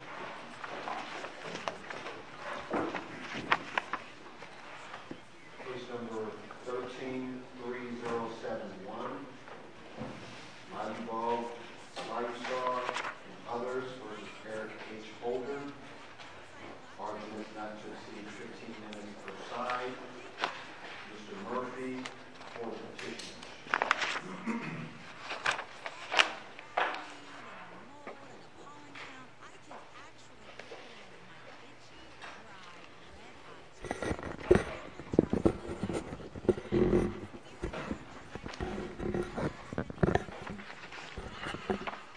The case number 13-3071 might involve a lifesaver and others versus Eric H. Holden. Mr. Murphy for the petition.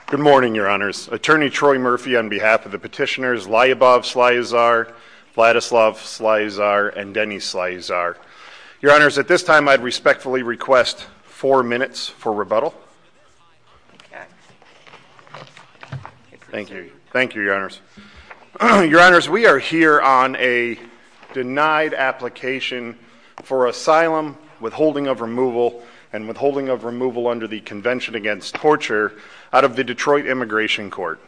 Good morning, your honors. Attorney Troy Murphy on behalf of the petitioners Lyubov Slaezar, Vladislav Slaezar, and Denny Slaezar. Your honors, at this time I'd respectfully request four minutes for rebuttal. Thank you. Thank you, your honors. Your honors, we are here on a denied application for asylum, withholding of removal, and withholding of removal under the Convention Against Torture out of the Detroit Immigration Court.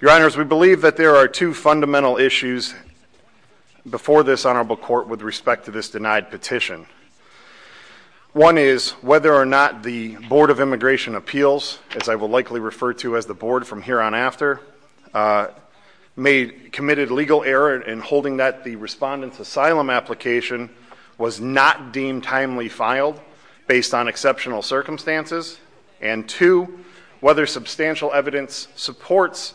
Your honors, we believe that there are two fundamental issues before this honorable court with respect to this denied petition. One is whether or not the Board of Immigration Appeals, as I will likely refer to as the board from here on after, committed legal error in holding that the respondent's asylum application was not deemed timely filed based on exceptional circumstances. And two, whether substantial evidence supports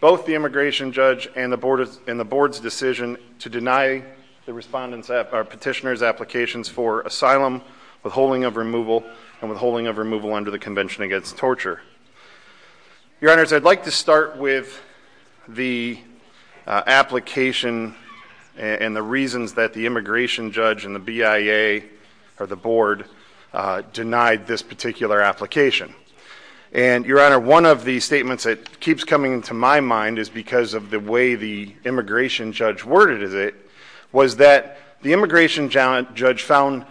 both the immigration judge and the board's decision to deny the petitioner's applications for asylum, withholding of removal, and withholding of removal under the Convention Against Torture. Your honors, I'd like to start with the application and the reasons that the immigration judge and the BIA, or the board, denied this particular application. And your honor, one of the statements that keeps coming to my mind is because of the way the immigration judge worded it, was that the immigration judge found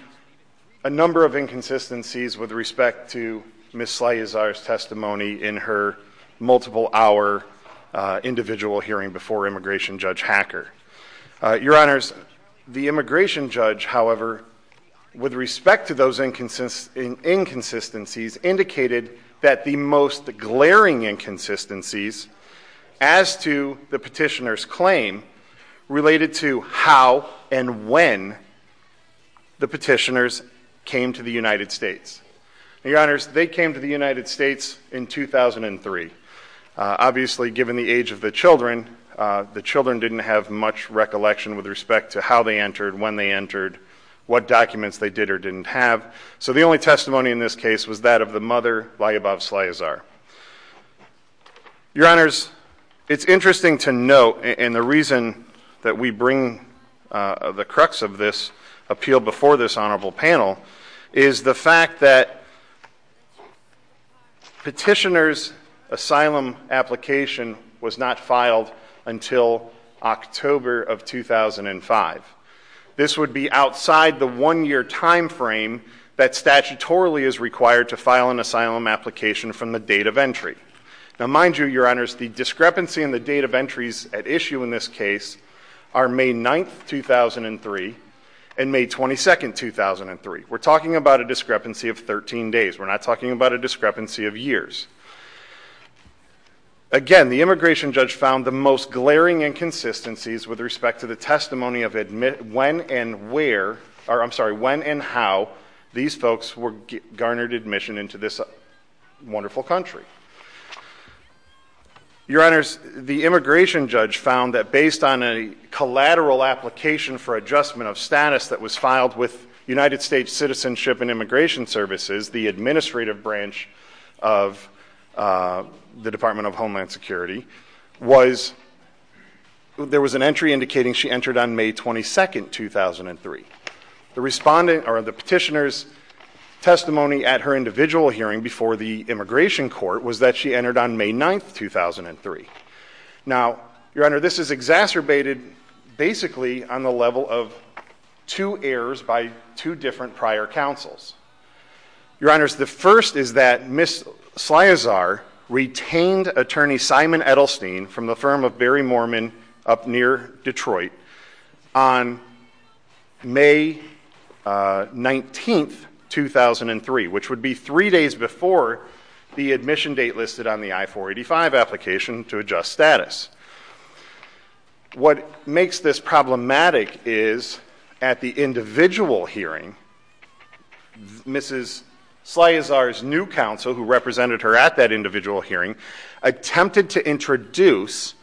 a number of inconsistencies with respect to Ms. Slajezar's testimony in her multiple hour individual hearing before immigration judge Hacker. Your honors, the immigration judge, however, with respect to those inconsistencies, indicated that the most glaring inconsistencies as to the petitioner's claim related to how and when the petitioners came to the United States. Your honors, they came to the United States in 2003. Obviously, given the age of the children, the children didn't have much recollection with respect to how they entered, when they entered, what documents they did or didn't have. So the only testimony in this case was that of the mother, Lajabov Slajezar. Your honors, it's interesting to note, and the reason that we bring the crux of this appeal before this honorable panel, is the fact that petitioner's asylum application was not filed until October of 2005. This would be outside the one year time frame that statutorily is required to file an asylum application from the date of entry. Now, mind you, your honors, the discrepancy in the date of entries at issue in this case are May 9th, 2003 and May 22nd, 2003. We're talking about a discrepancy of 13 days. We're not talking about a discrepancy of years. Again, the immigration judge found the most glaring inconsistencies with respect to the wonderful country. Your honors, the immigration judge found that based on a collateral application for adjustment of status that was filed with United States Citizenship and Immigration Services, the administrative branch of the Department of Homeland Security, was, there was an entry indicating she entered on May 22nd, 2003. The respondent, or the petitioner's testimony at her individual hearing before the immigration court was that she entered on May 9th, 2003. Now, your honor, this is exacerbated basically on the level of two errors by two different prior counsels. Your honors, the first is that Ms. Slyazar retained attorney Simon Edelstein from the hearing on May 19th, 2003, which would be three days before the admission date listed on the I-485 application to adjust status. What makes this problematic is at the individual hearing, Mrs. Slyazar's new counsel, who represented her at that individual hearing, attempted to introduce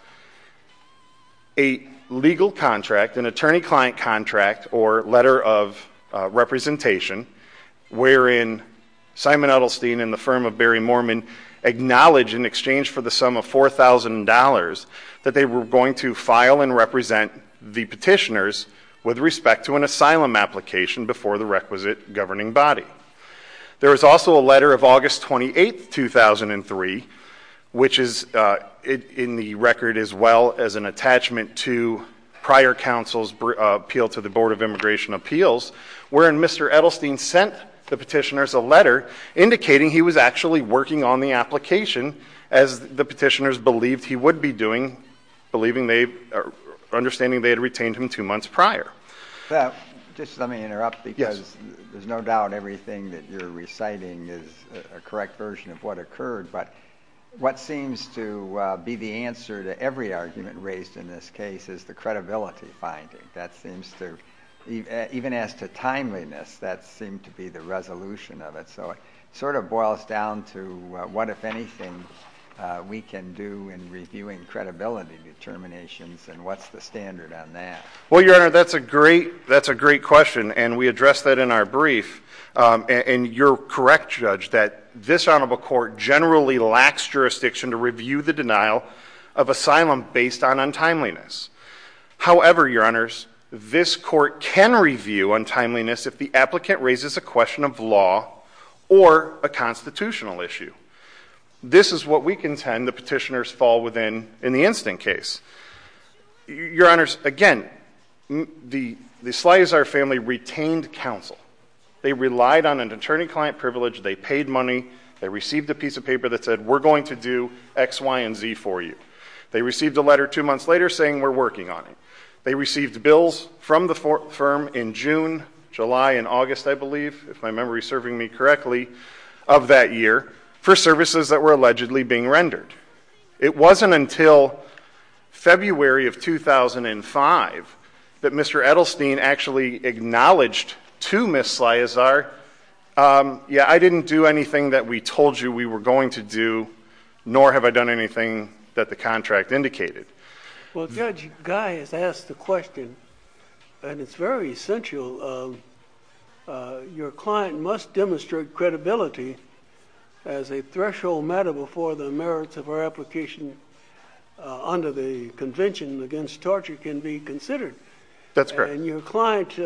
a legal contract, an attorney-client contract or letter of representation, wherein Simon Edelstein and the firm of Barry Moorman acknowledged in exchange for the sum of $4,000 that they were going to file and represent the petitioners with respect to an asylum application before the requisite governing body. There is also a letter of August 28th, 2003, which is in the record as well as an attachment to prior counsel's appeal to the Board of Immigration Appeals, wherein Mr. Edelstein sent the petitioners a letter indicating he was actually working on the application as the petitioners believed he would be doing, believing they, understanding they had retained him two months prior. Just let me interrupt because there's no doubt everything that you're reciting is a correct version of what occurred, but what seems to be the answer to every argument raised in this case is the credibility finding. That seems to, even as to timeliness, that seemed to be the resolution of it. So it sort of boils down to what, if anything, we can do in reviewing credibility determinations and what's the standard on that. Well, Your Honor, that's a great, that's a great question and we addressed that in our brief and you're correct, Judge, that this Honorable Court generally lacks jurisdiction to review the denial of asylum based on untimeliness. However, Your Honors, this court can review untimeliness if the applicant raises a question of law or a constitutional issue. This is what we contend the petitioners fall within in the instant case. Your Honors, again, the Slaizer family retained counsel. They relied on an attorney-client privilege, they paid money, they received a piece of paper that said, we're going to do X, Y, and Z for you. They received a letter two months later saying, we're working on it. They received bills from the firm in June, July, and August, I believe, if my memory is serving me correctly, of that year for services that were allegedly being rendered. It wasn't until February of 2005 that Mr. Edelstein actually acknowledged to Ms. Slaizer, yeah, I didn't do anything that we told you we were going to do, nor have I done anything that the contract indicated. Well, Judge, Guy has asked the question, and it's very essential, your client must demonstrate credibility as a threshold matter before the merits of her application under the Convention Against Torture can be considered. That's correct. And your client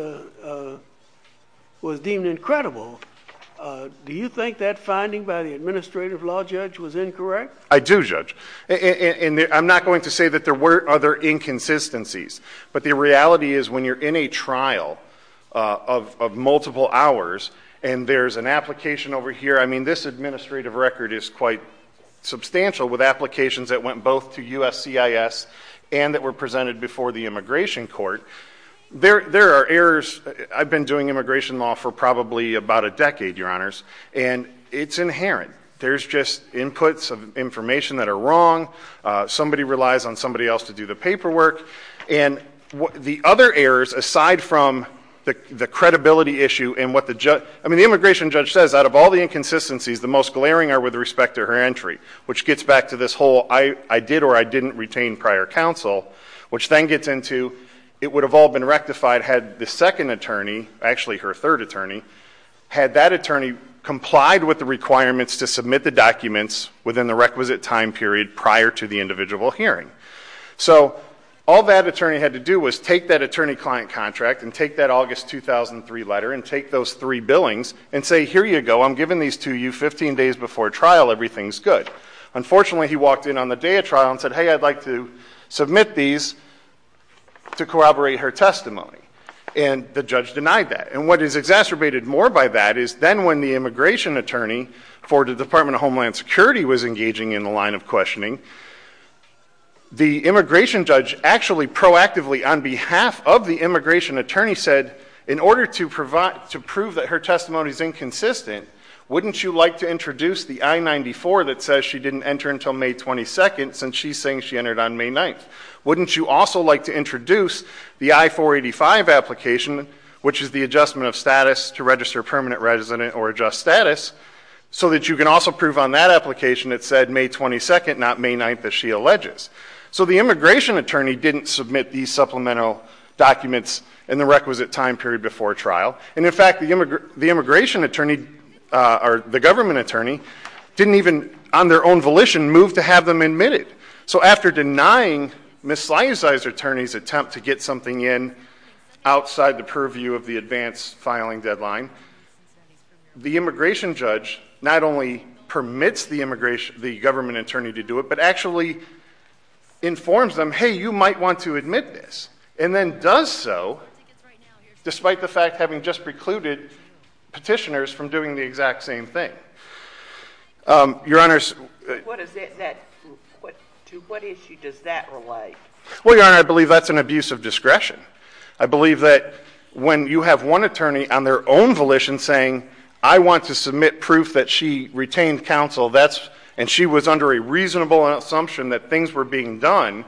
was deemed incredible. Do you think that finding by the administrative law judge was incorrect? I do, Judge. I'm not going to say that there were other inconsistencies, but the reality is when you're in a trial of multiple hours and there's an application over here, I mean, this administrative record is quite substantial with applications that went both to USCIS and that were presented before the immigration court. There are errors. I've been doing immigration law for probably about a decade, your honors, and it's inherent. There's just inputs of information that are wrong. Somebody relies on somebody else to do the paperwork. And the other errors, aside from the credibility issue and what the judge, I mean, the immigration judge says out of all the inconsistencies, the most glaring are with respect to her entry, which gets back to this whole I did or I didn't retain prior counsel, which then gets into it would have all been rectified had the second attorney, actually her third attorney, had that attorney complied with the requirements to submit the documents within the requisite time period prior to the individual hearing. So all that attorney had to do was take that attorney-client contract and take that August 2003 letter and take those three billings and say, here you go, I'm giving these to you 15 days before trial. Everything's good. Unfortunately, he walked in on the day of trial and said, hey, I'd like to submit these to corroborate her testimony. And the judge denied that. And what is exacerbated more by that is then when the immigration attorney for the Department of Homeland Security was engaging in the line of questioning, the immigration judge actually proactively on behalf of the immigration attorney said, in order to prove that her testimony is inconsistent, wouldn't you like to introduce the I-94 that says she didn't enter until May 22nd since she's saying she entered on May 9th? Wouldn't you also like to introduce the I-485 application, which is the adjustment of status to register permanent resident or adjust status, so that you can also prove on that application it said May 22nd, not May 9th, as she alleges? So the immigration attorney didn't submit these supplemental documents in the requisite time period before trial. And in fact, the immigration attorney, or the government attorney, didn't even, on their own volition, move to have them admitted. So after denying Ms. Slideside's attorney's attempt to get something in outside the purview of the advance filing deadline, the immigration judge not only permits the government attorney to do it, but actually informs them, hey, you might want to admit this. And then does so despite the fact having just precluded petitioners from doing the exact same thing. Your Honor's... What is that... To what issue does that relate? Well, Your Honor, I believe that's an abuse of discretion. I believe that when you have one attorney on their own volition saying, I want to submit proof that she retained counsel, and she was under a reasonable assumption that things were being done,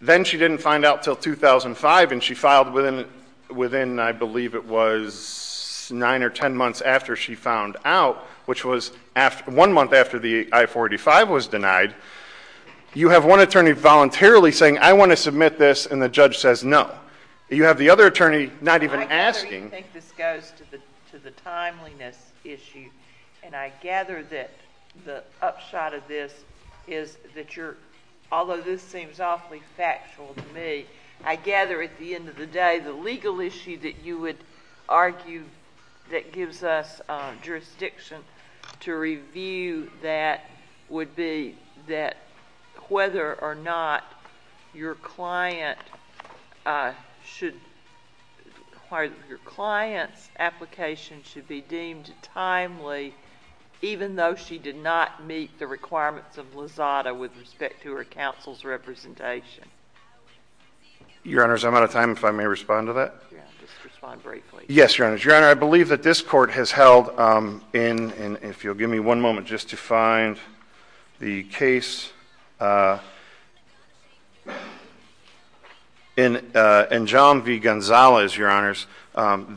then she didn't find out until 2005, and she filed within, I believe it was nine or ten months after she found out, which was one month after the I-45 was denied. You have one attorney voluntarily saying, I want to submit this, and the judge says no. You have the other attorney not even asking... I gather you think this goes to the timeliness issue. And I gather that the upshot of this is that you're, although this seems awfully factual to me, I gather at the end of the day, the legal issue that you would argue that gives us jurisdiction to review that would be that whether or not your client should, your client's application should be deemed timely, even though she did not meet the requirements of Lozada with respect to her counsel's representation. Your Honor, I'm out of time. If I may respond to that. Just respond briefly. Yes, Your Honor. Your Honor, I believe that this Court has held in, and if you'll give me one moment just to find the case, in Jom v. Gonzalez, Your Honors,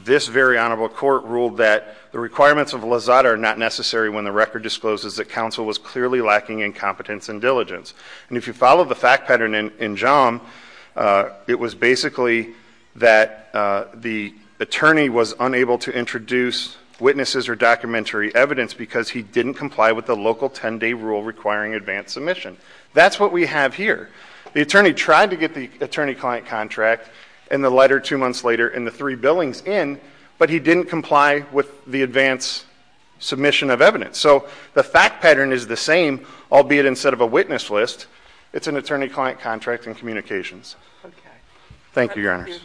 this very honorable Court ruled that the requirements of Lozada are not necessary when the record discloses that counsel was clearly lacking in competence and diligence. And if you follow the fact pattern in Jom, it was basically that the attorney was unable to introduce witnesses or documentary evidence because he didn't comply with the local 10-day rule requiring advanced submission. That's what we have here. The attorney tried to get the attorney-client contract and the letter two months later and the three billings in, but he didn't comply with the advanced submission of evidence. So the fact pattern is the same, albeit instead of a witness list, it's an attorney-client contract and communications. Thank you, Your Honors.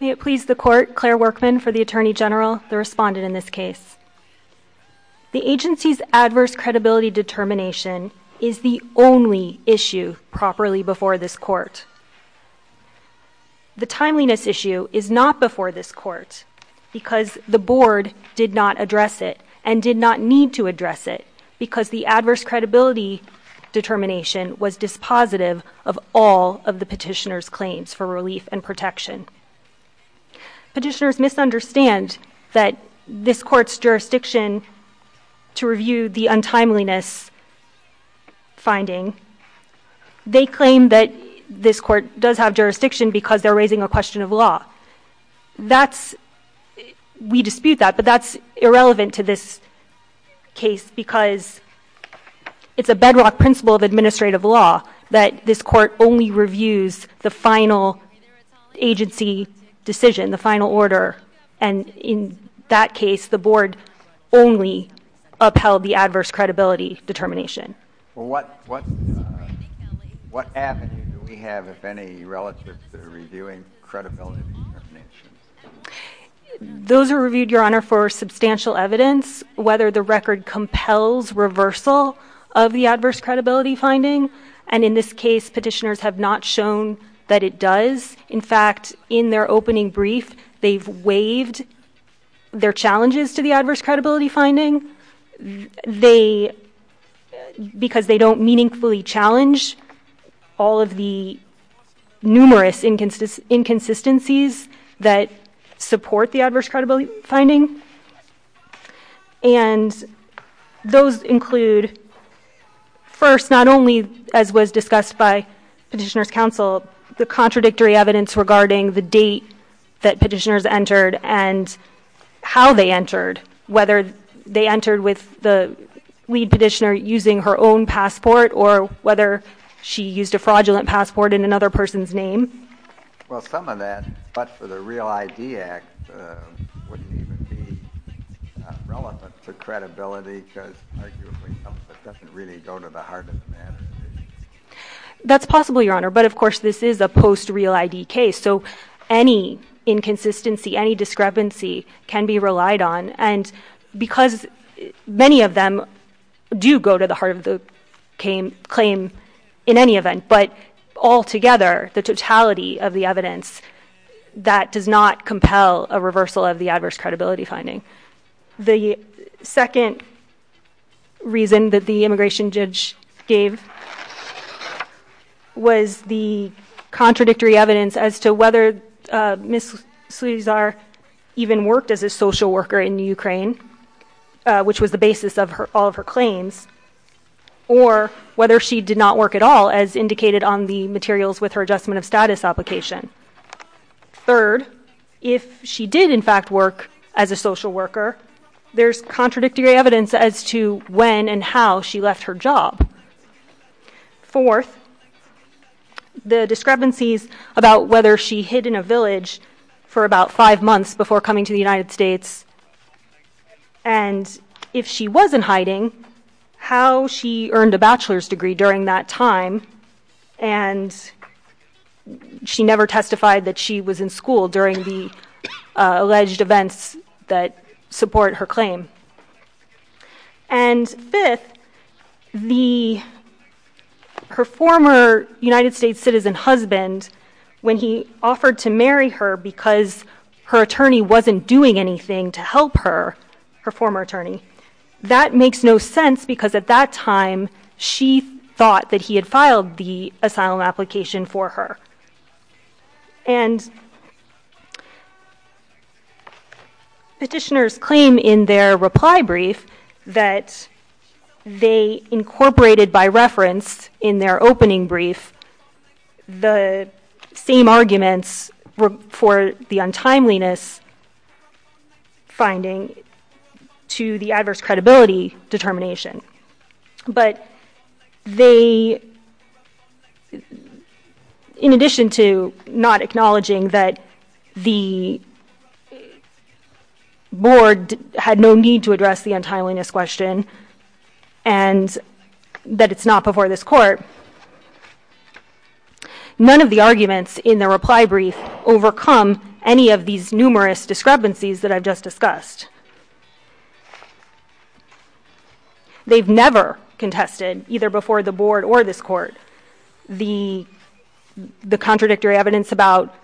May it please the Court, Claire Workman for the Attorney General, the respondent in this case. The agency's adverse credibility determination is the only issue properly before this Court. The timeliness issue is not before this Court because the Board did not address it and did not need to address it because the adverse credibility determination was dispositive of all of the petitioner's claims for relief and protection. Petitioners misunderstand that this Court's jurisdiction to review the untimeliness finding, they claim that this Court does have jurisdiction because they're raising a question of law. We dispute that, but that's irrelevant to this case because it's a bedrock principle of administrative law that this Court only reviews the final agency decision, the final order, and in that case, the Board only upheld the adverse credibility determination. What avenue do we have, if any, relative to reviewing credibility determinations? Those are reviewed, Your Honor, for substantial evidence, whether the record compels reversal of the adverse credibility finding, and in this case, petitioners have not shown that it does. In fact, in their opening brief, they've waived their challenges to the adverse credibility finding because they don't meaningfully challenge all of the numerous inconsistencies that support the adverse credibility finding, and those include, first, not only, as was discussed by Petitioner's Counsel, the contradictory evidence regarding the date that petitioners entered and how they entered, whether they entered with the lead petitioner using her own passport or whether she used a fraudulent passport in another person's name. Well, some of that, but for the REAL ID Act, wouldn't even be relevant to credibility because arguably, it doesn't really go to the heart of the matter. That's possible, Your Honor, but of course, this is a post-REAL ID case, so any inconsistency, any discrepancy can be relied on, and because many of them do go to the heart of the claim in any event, but altogether, the totality of the evidence, that does not compel a reversal of the adverse credibility finding. The second reason that the immigration judge gave was the contradictory evidence as to whether Ms. Suizar even worked as a social worker in the Ukraine, which was the basis of all of her claims, or whether she did not work at all, as indicated on the materials with her Adjustment of Status application. Third, if she did, in fact, work as a social worker, there's contradictory evidence as to when and how she left her job. Fourth, the discrepancies about whether she hid in a village for about five months before coming to the United States, and if she wasn't hiding, how she earned a bachelor's degree during that time, and she never testified that she was in school during the alleged events that support her claim. And fifth, her former United States citizen husband, when he offered to marry her because her attorney wasn't doing anything to help her, her former attorney, that makes no sense because at that time, she thought that he had filed the asylum application for her. And petitioners claim in their reply brief that they incorporated by reference in their untimeliness finding to the adverse credibility determination. But they, in addition to not acknowledging that the board had no need to address the untimeliness question and that it's not before this court, none of the arguments in their brief have these numerous discrepancies that I've just discussed. They've never contested, either before the board or this court, the contradictory evidence about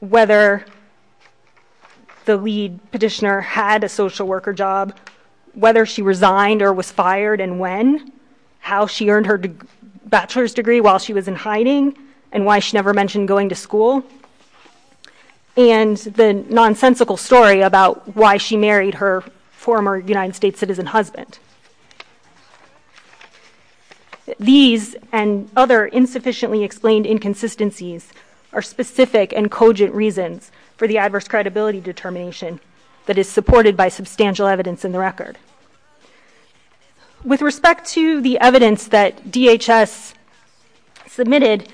whether the lead petitioner had a social worker job, whether she resigned or was fired and when, how she earned her bachelor's degree while she was in hiding, and why she never mentioned going to school, and the nonsensical story about why she married her former United States citizen husband. These and other insufficiently explained inconsistencies are specific and cogent reasons for the adverse credibility determination that is supported by substantial evidence in the record. With respect to the evidence that DHS submitted,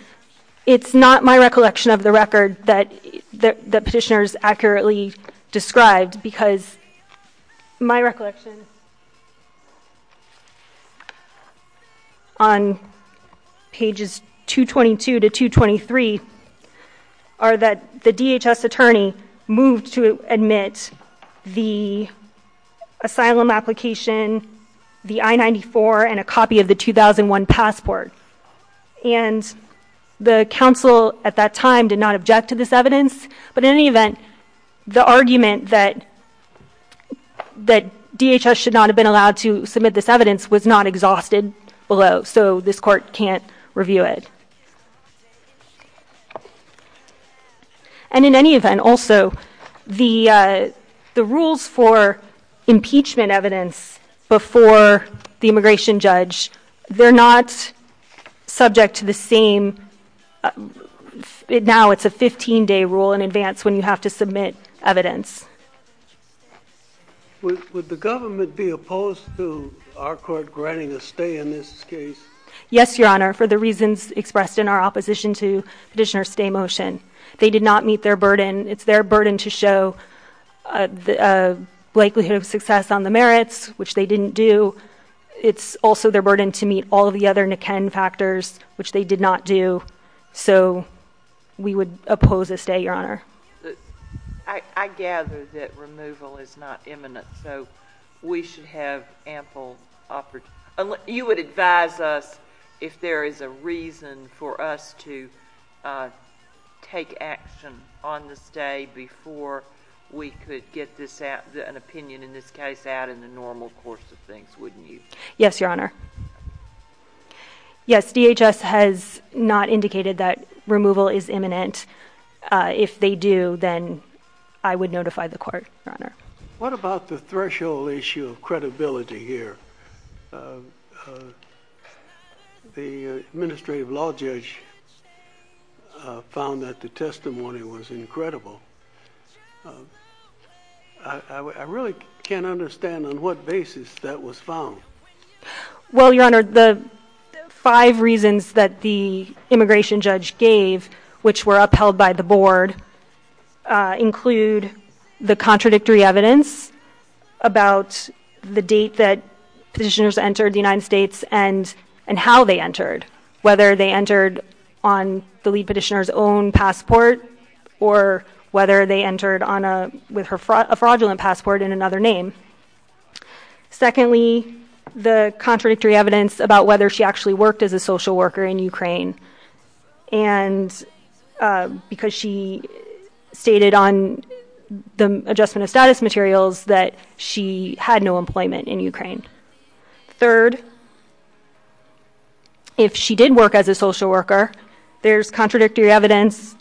it's not my recollection of the record that petitioners accurately described because my recollection on pages 222 to 223 are that the DHS attorney moved to admit the asylum application, the I-94, and a copy of the 2001 passport. And the counsel at that time did not object to this evidence, but in any event, the argument that DHS should not have been allowed to submit this evidence was not exhausted below, so this court can't review it. And in any event, also, the rules for impeachment evidence before the immigration judge, they're not subject to the same, now it's a 15-day rule in advance when you have to submit evidence. Would the government be opposed to our court granting a stay in this case? Yes, Your Honor, for the reasons expressed in our opposition to Petitioner's stay motion. They did not meet their burden. It's their burden to show a likelihood of success on the merits, which they didn't do. It's also their burden to meet all of the other Niken factors, which they did not do, so we would oppose a stay, Your Honor. I gather that removal is not imminent, so we should have ample opportunity. You would advise us if there is a reason for us to take action on the stay before we could get an opinion in this case out in the normal course of things, wouldn't you? Yes, Your Honor. Yes, DHS has not indicated that removal is imminent. If they do, then I would notify the court, Your Honor. What about the threshold issue of credibility here? The administrative law judge found that the testimony was incredible. I really can't understand on what basis that was found. Well, Your Honor, the five reasons that the immigration judge gave, which were upheld by the board, include the contradictory evidence about the date that Petitioner's entered the United States and how they entered, whether they entered on the lead Petitioner's own passport, or whether they entered with a fraudulent passport and another name. Secondly, the contradictory evidence about whether she actually worked as a social worker in Ukraine, because she stated on the adjustment of status materials that she had no employment in Ukraine. Third, if she did work as a social worker, there's contradictory evidence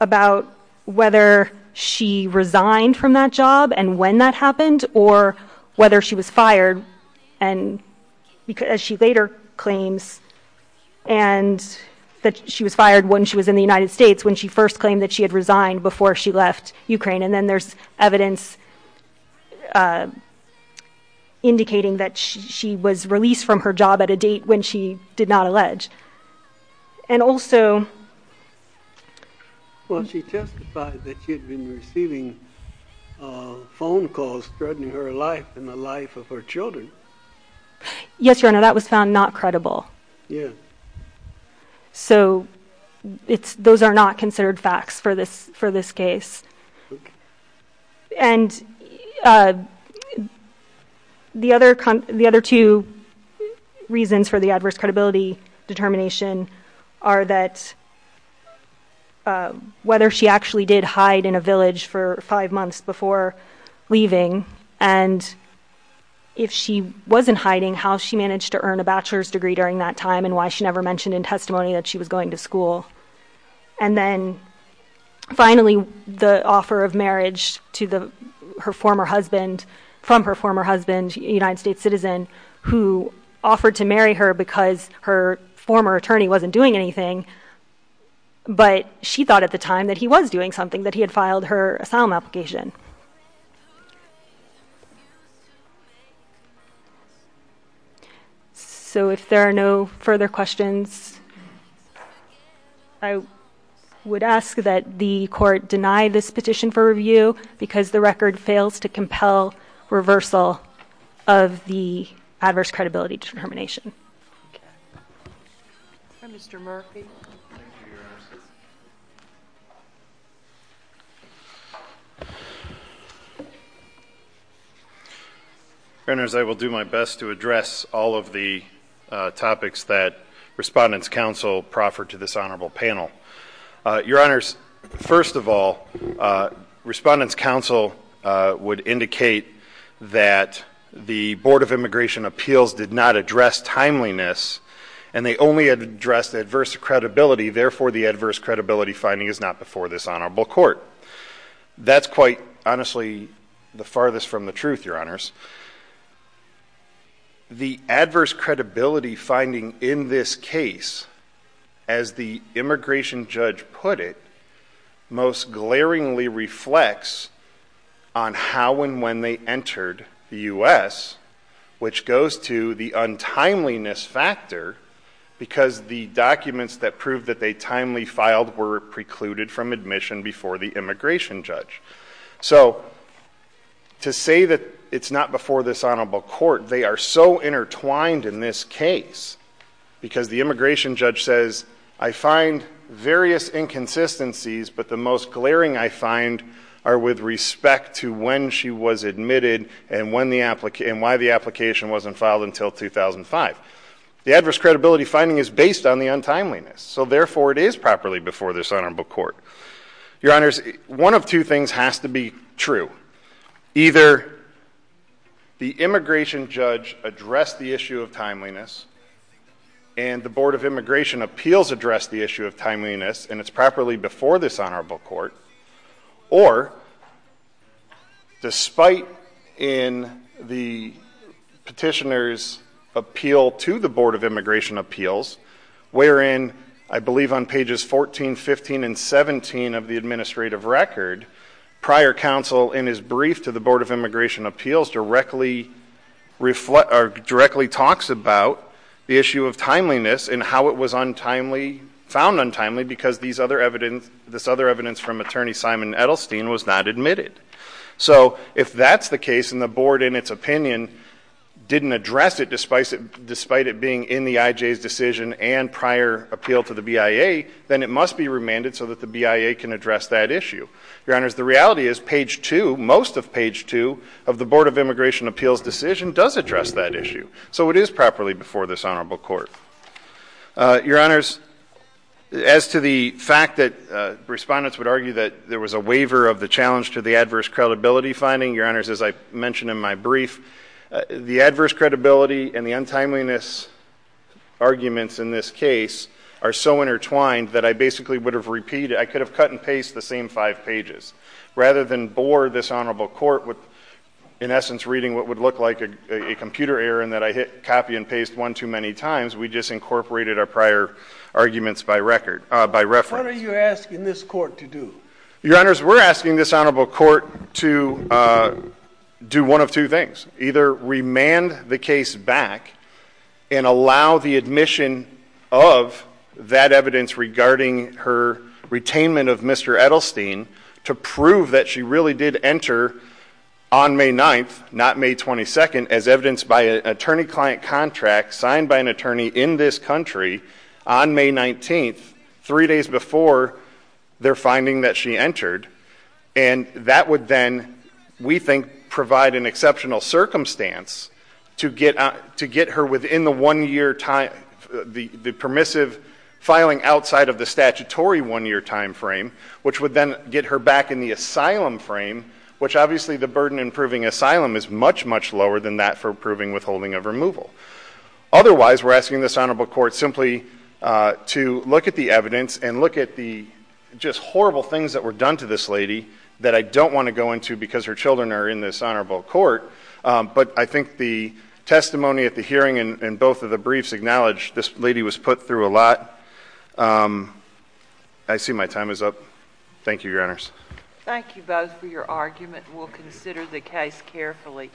about whether she resigned from that job and when that happened, or whether she was fired, as she later claims, and that she was fired when she was in the United States, when she first claimed that she had resigned before she left Ukraine. And then there's evidence indicating that she was released from her job at a date when she did not allege. And also... Well, she testified that she had been receiving phone calls threatening her life and the life of her children. Yes, Your Honor, that was found not credible. Yeah. So those are not considered facts for this case. And the other two reasons for the adverse credibility determination are that whether she actually did hide in a village for five months before leaving, and if she wasn't hiding, how she managed to earn a bachelor's degree during that time, and why she never mentioned in testimony that she was going to school. And then finally, the offer of marriage from her former husband, a United States citizen, who offered to marry her because her former attorney wasn't doing anything, but she thought at the time that he was doing something, that he had filed her asylum application. So if there are no further questions, I would ask that the court deny this petition for review because the record fails to compel reversal of the adverse credibility determination. Okay. Thank you, Your Honor. Your Honor, as I will do my best to address all of the topics that Respondents' Counsel proffered to this honorable panel. Your Honors, first of all, Respondents' Counsel would indicate that the Board of Immigration Appeals did not address timeliness, and they only addressed adverse credibility, therefore the adverse credibility finding is not before this honorable court. That's quite honestly the farthest from the truth, Your Honors. The adverse credibility finding in this case, as the immigration judge put it, most glaringly reflects on how and when they entered the U.S., which goes to the untimeliness factor because the documents that proved that they timely filed were precluded from admission before the immigration judge. So to say that it's not before this honorable court, they are so intertwined in this case because the immigration judge says, I find various inconsistencies, but the most glaring I find are with respect to when she was admitted and why the application wasn't filed until 2005. The adverse credibility finding is based on the untimeliness, so therefore it is properly before this honorable court. Your Honors, one of two things has to be true. Either the immigration judge addressed the issue of timeliness, and the Board of Immigration Appeals addressed the issue of timeliness, and it's properly before this honorable court, or despite in the petitioner's appeal to the Board of Immigration Appeals, wherein I believe on pages 14, 15, and 17 of the administrative record, prior counsel in his brief to the Board of Immigration Appeals directly talks about the issue of timeliness and how it was found untimely because this other evidence from attorney Simon Edelstein was not admitted. So if that's the case and the Board in its opinion didn't address it despite it being in the IJ's decision and prior appeal to the BIA, then it must be remanded so that the BIA can address that issue. Your Honors, the reality is page two, most of page two of the Board of Immigration Appeals decision does address that issue. So it is properly before this honorable court. Your Honors, as to the fact that respondents would argue that there was a waiver of the challenge to the adverse credibility finding, Your Honors, as I mentioned in my brief, the adverse credibility and the untimeliness arguments in this case are so intertwined that I basically would have repeated, I could have cut and pasted the same five pages. Rather than bore this honorable court with, in essence, reading what would look like a waiver. We just incorporated our prior arguments by record, by reference. What are you asking this court to do? Your Honors, we're asking this honorable court to do one of two things. Either remand the case back and allow the admission of that evidence regarding her retainment of Mr. Edelstein to prove that she really did enter on May 9th, not May 22nd, as evidenced by an attorney-client contract signed by an attorney in this country on May 19th, three days before their finding that she entered. And that would then, we think, provide an exceptional circumstance to get her within the one-year time, the permissive filing outside of the statutory one-year time frame, which would then get her back in the asylum frame, which obviously the burden in proving asylum is much, much lower than that for proving withholding of removal. Otherwise, we're asking this honorable court simply to look at the evidence and look at the just horrible things that were done to this lady that I don't want to go into because her children are in this honorable court. But I think the testimony at the hearing and both of the briefs acknowledge this lady was put through a lot. I see my time is up. Thank you, Your Honors. Thank you both for your argument. We'll consider the case carefully.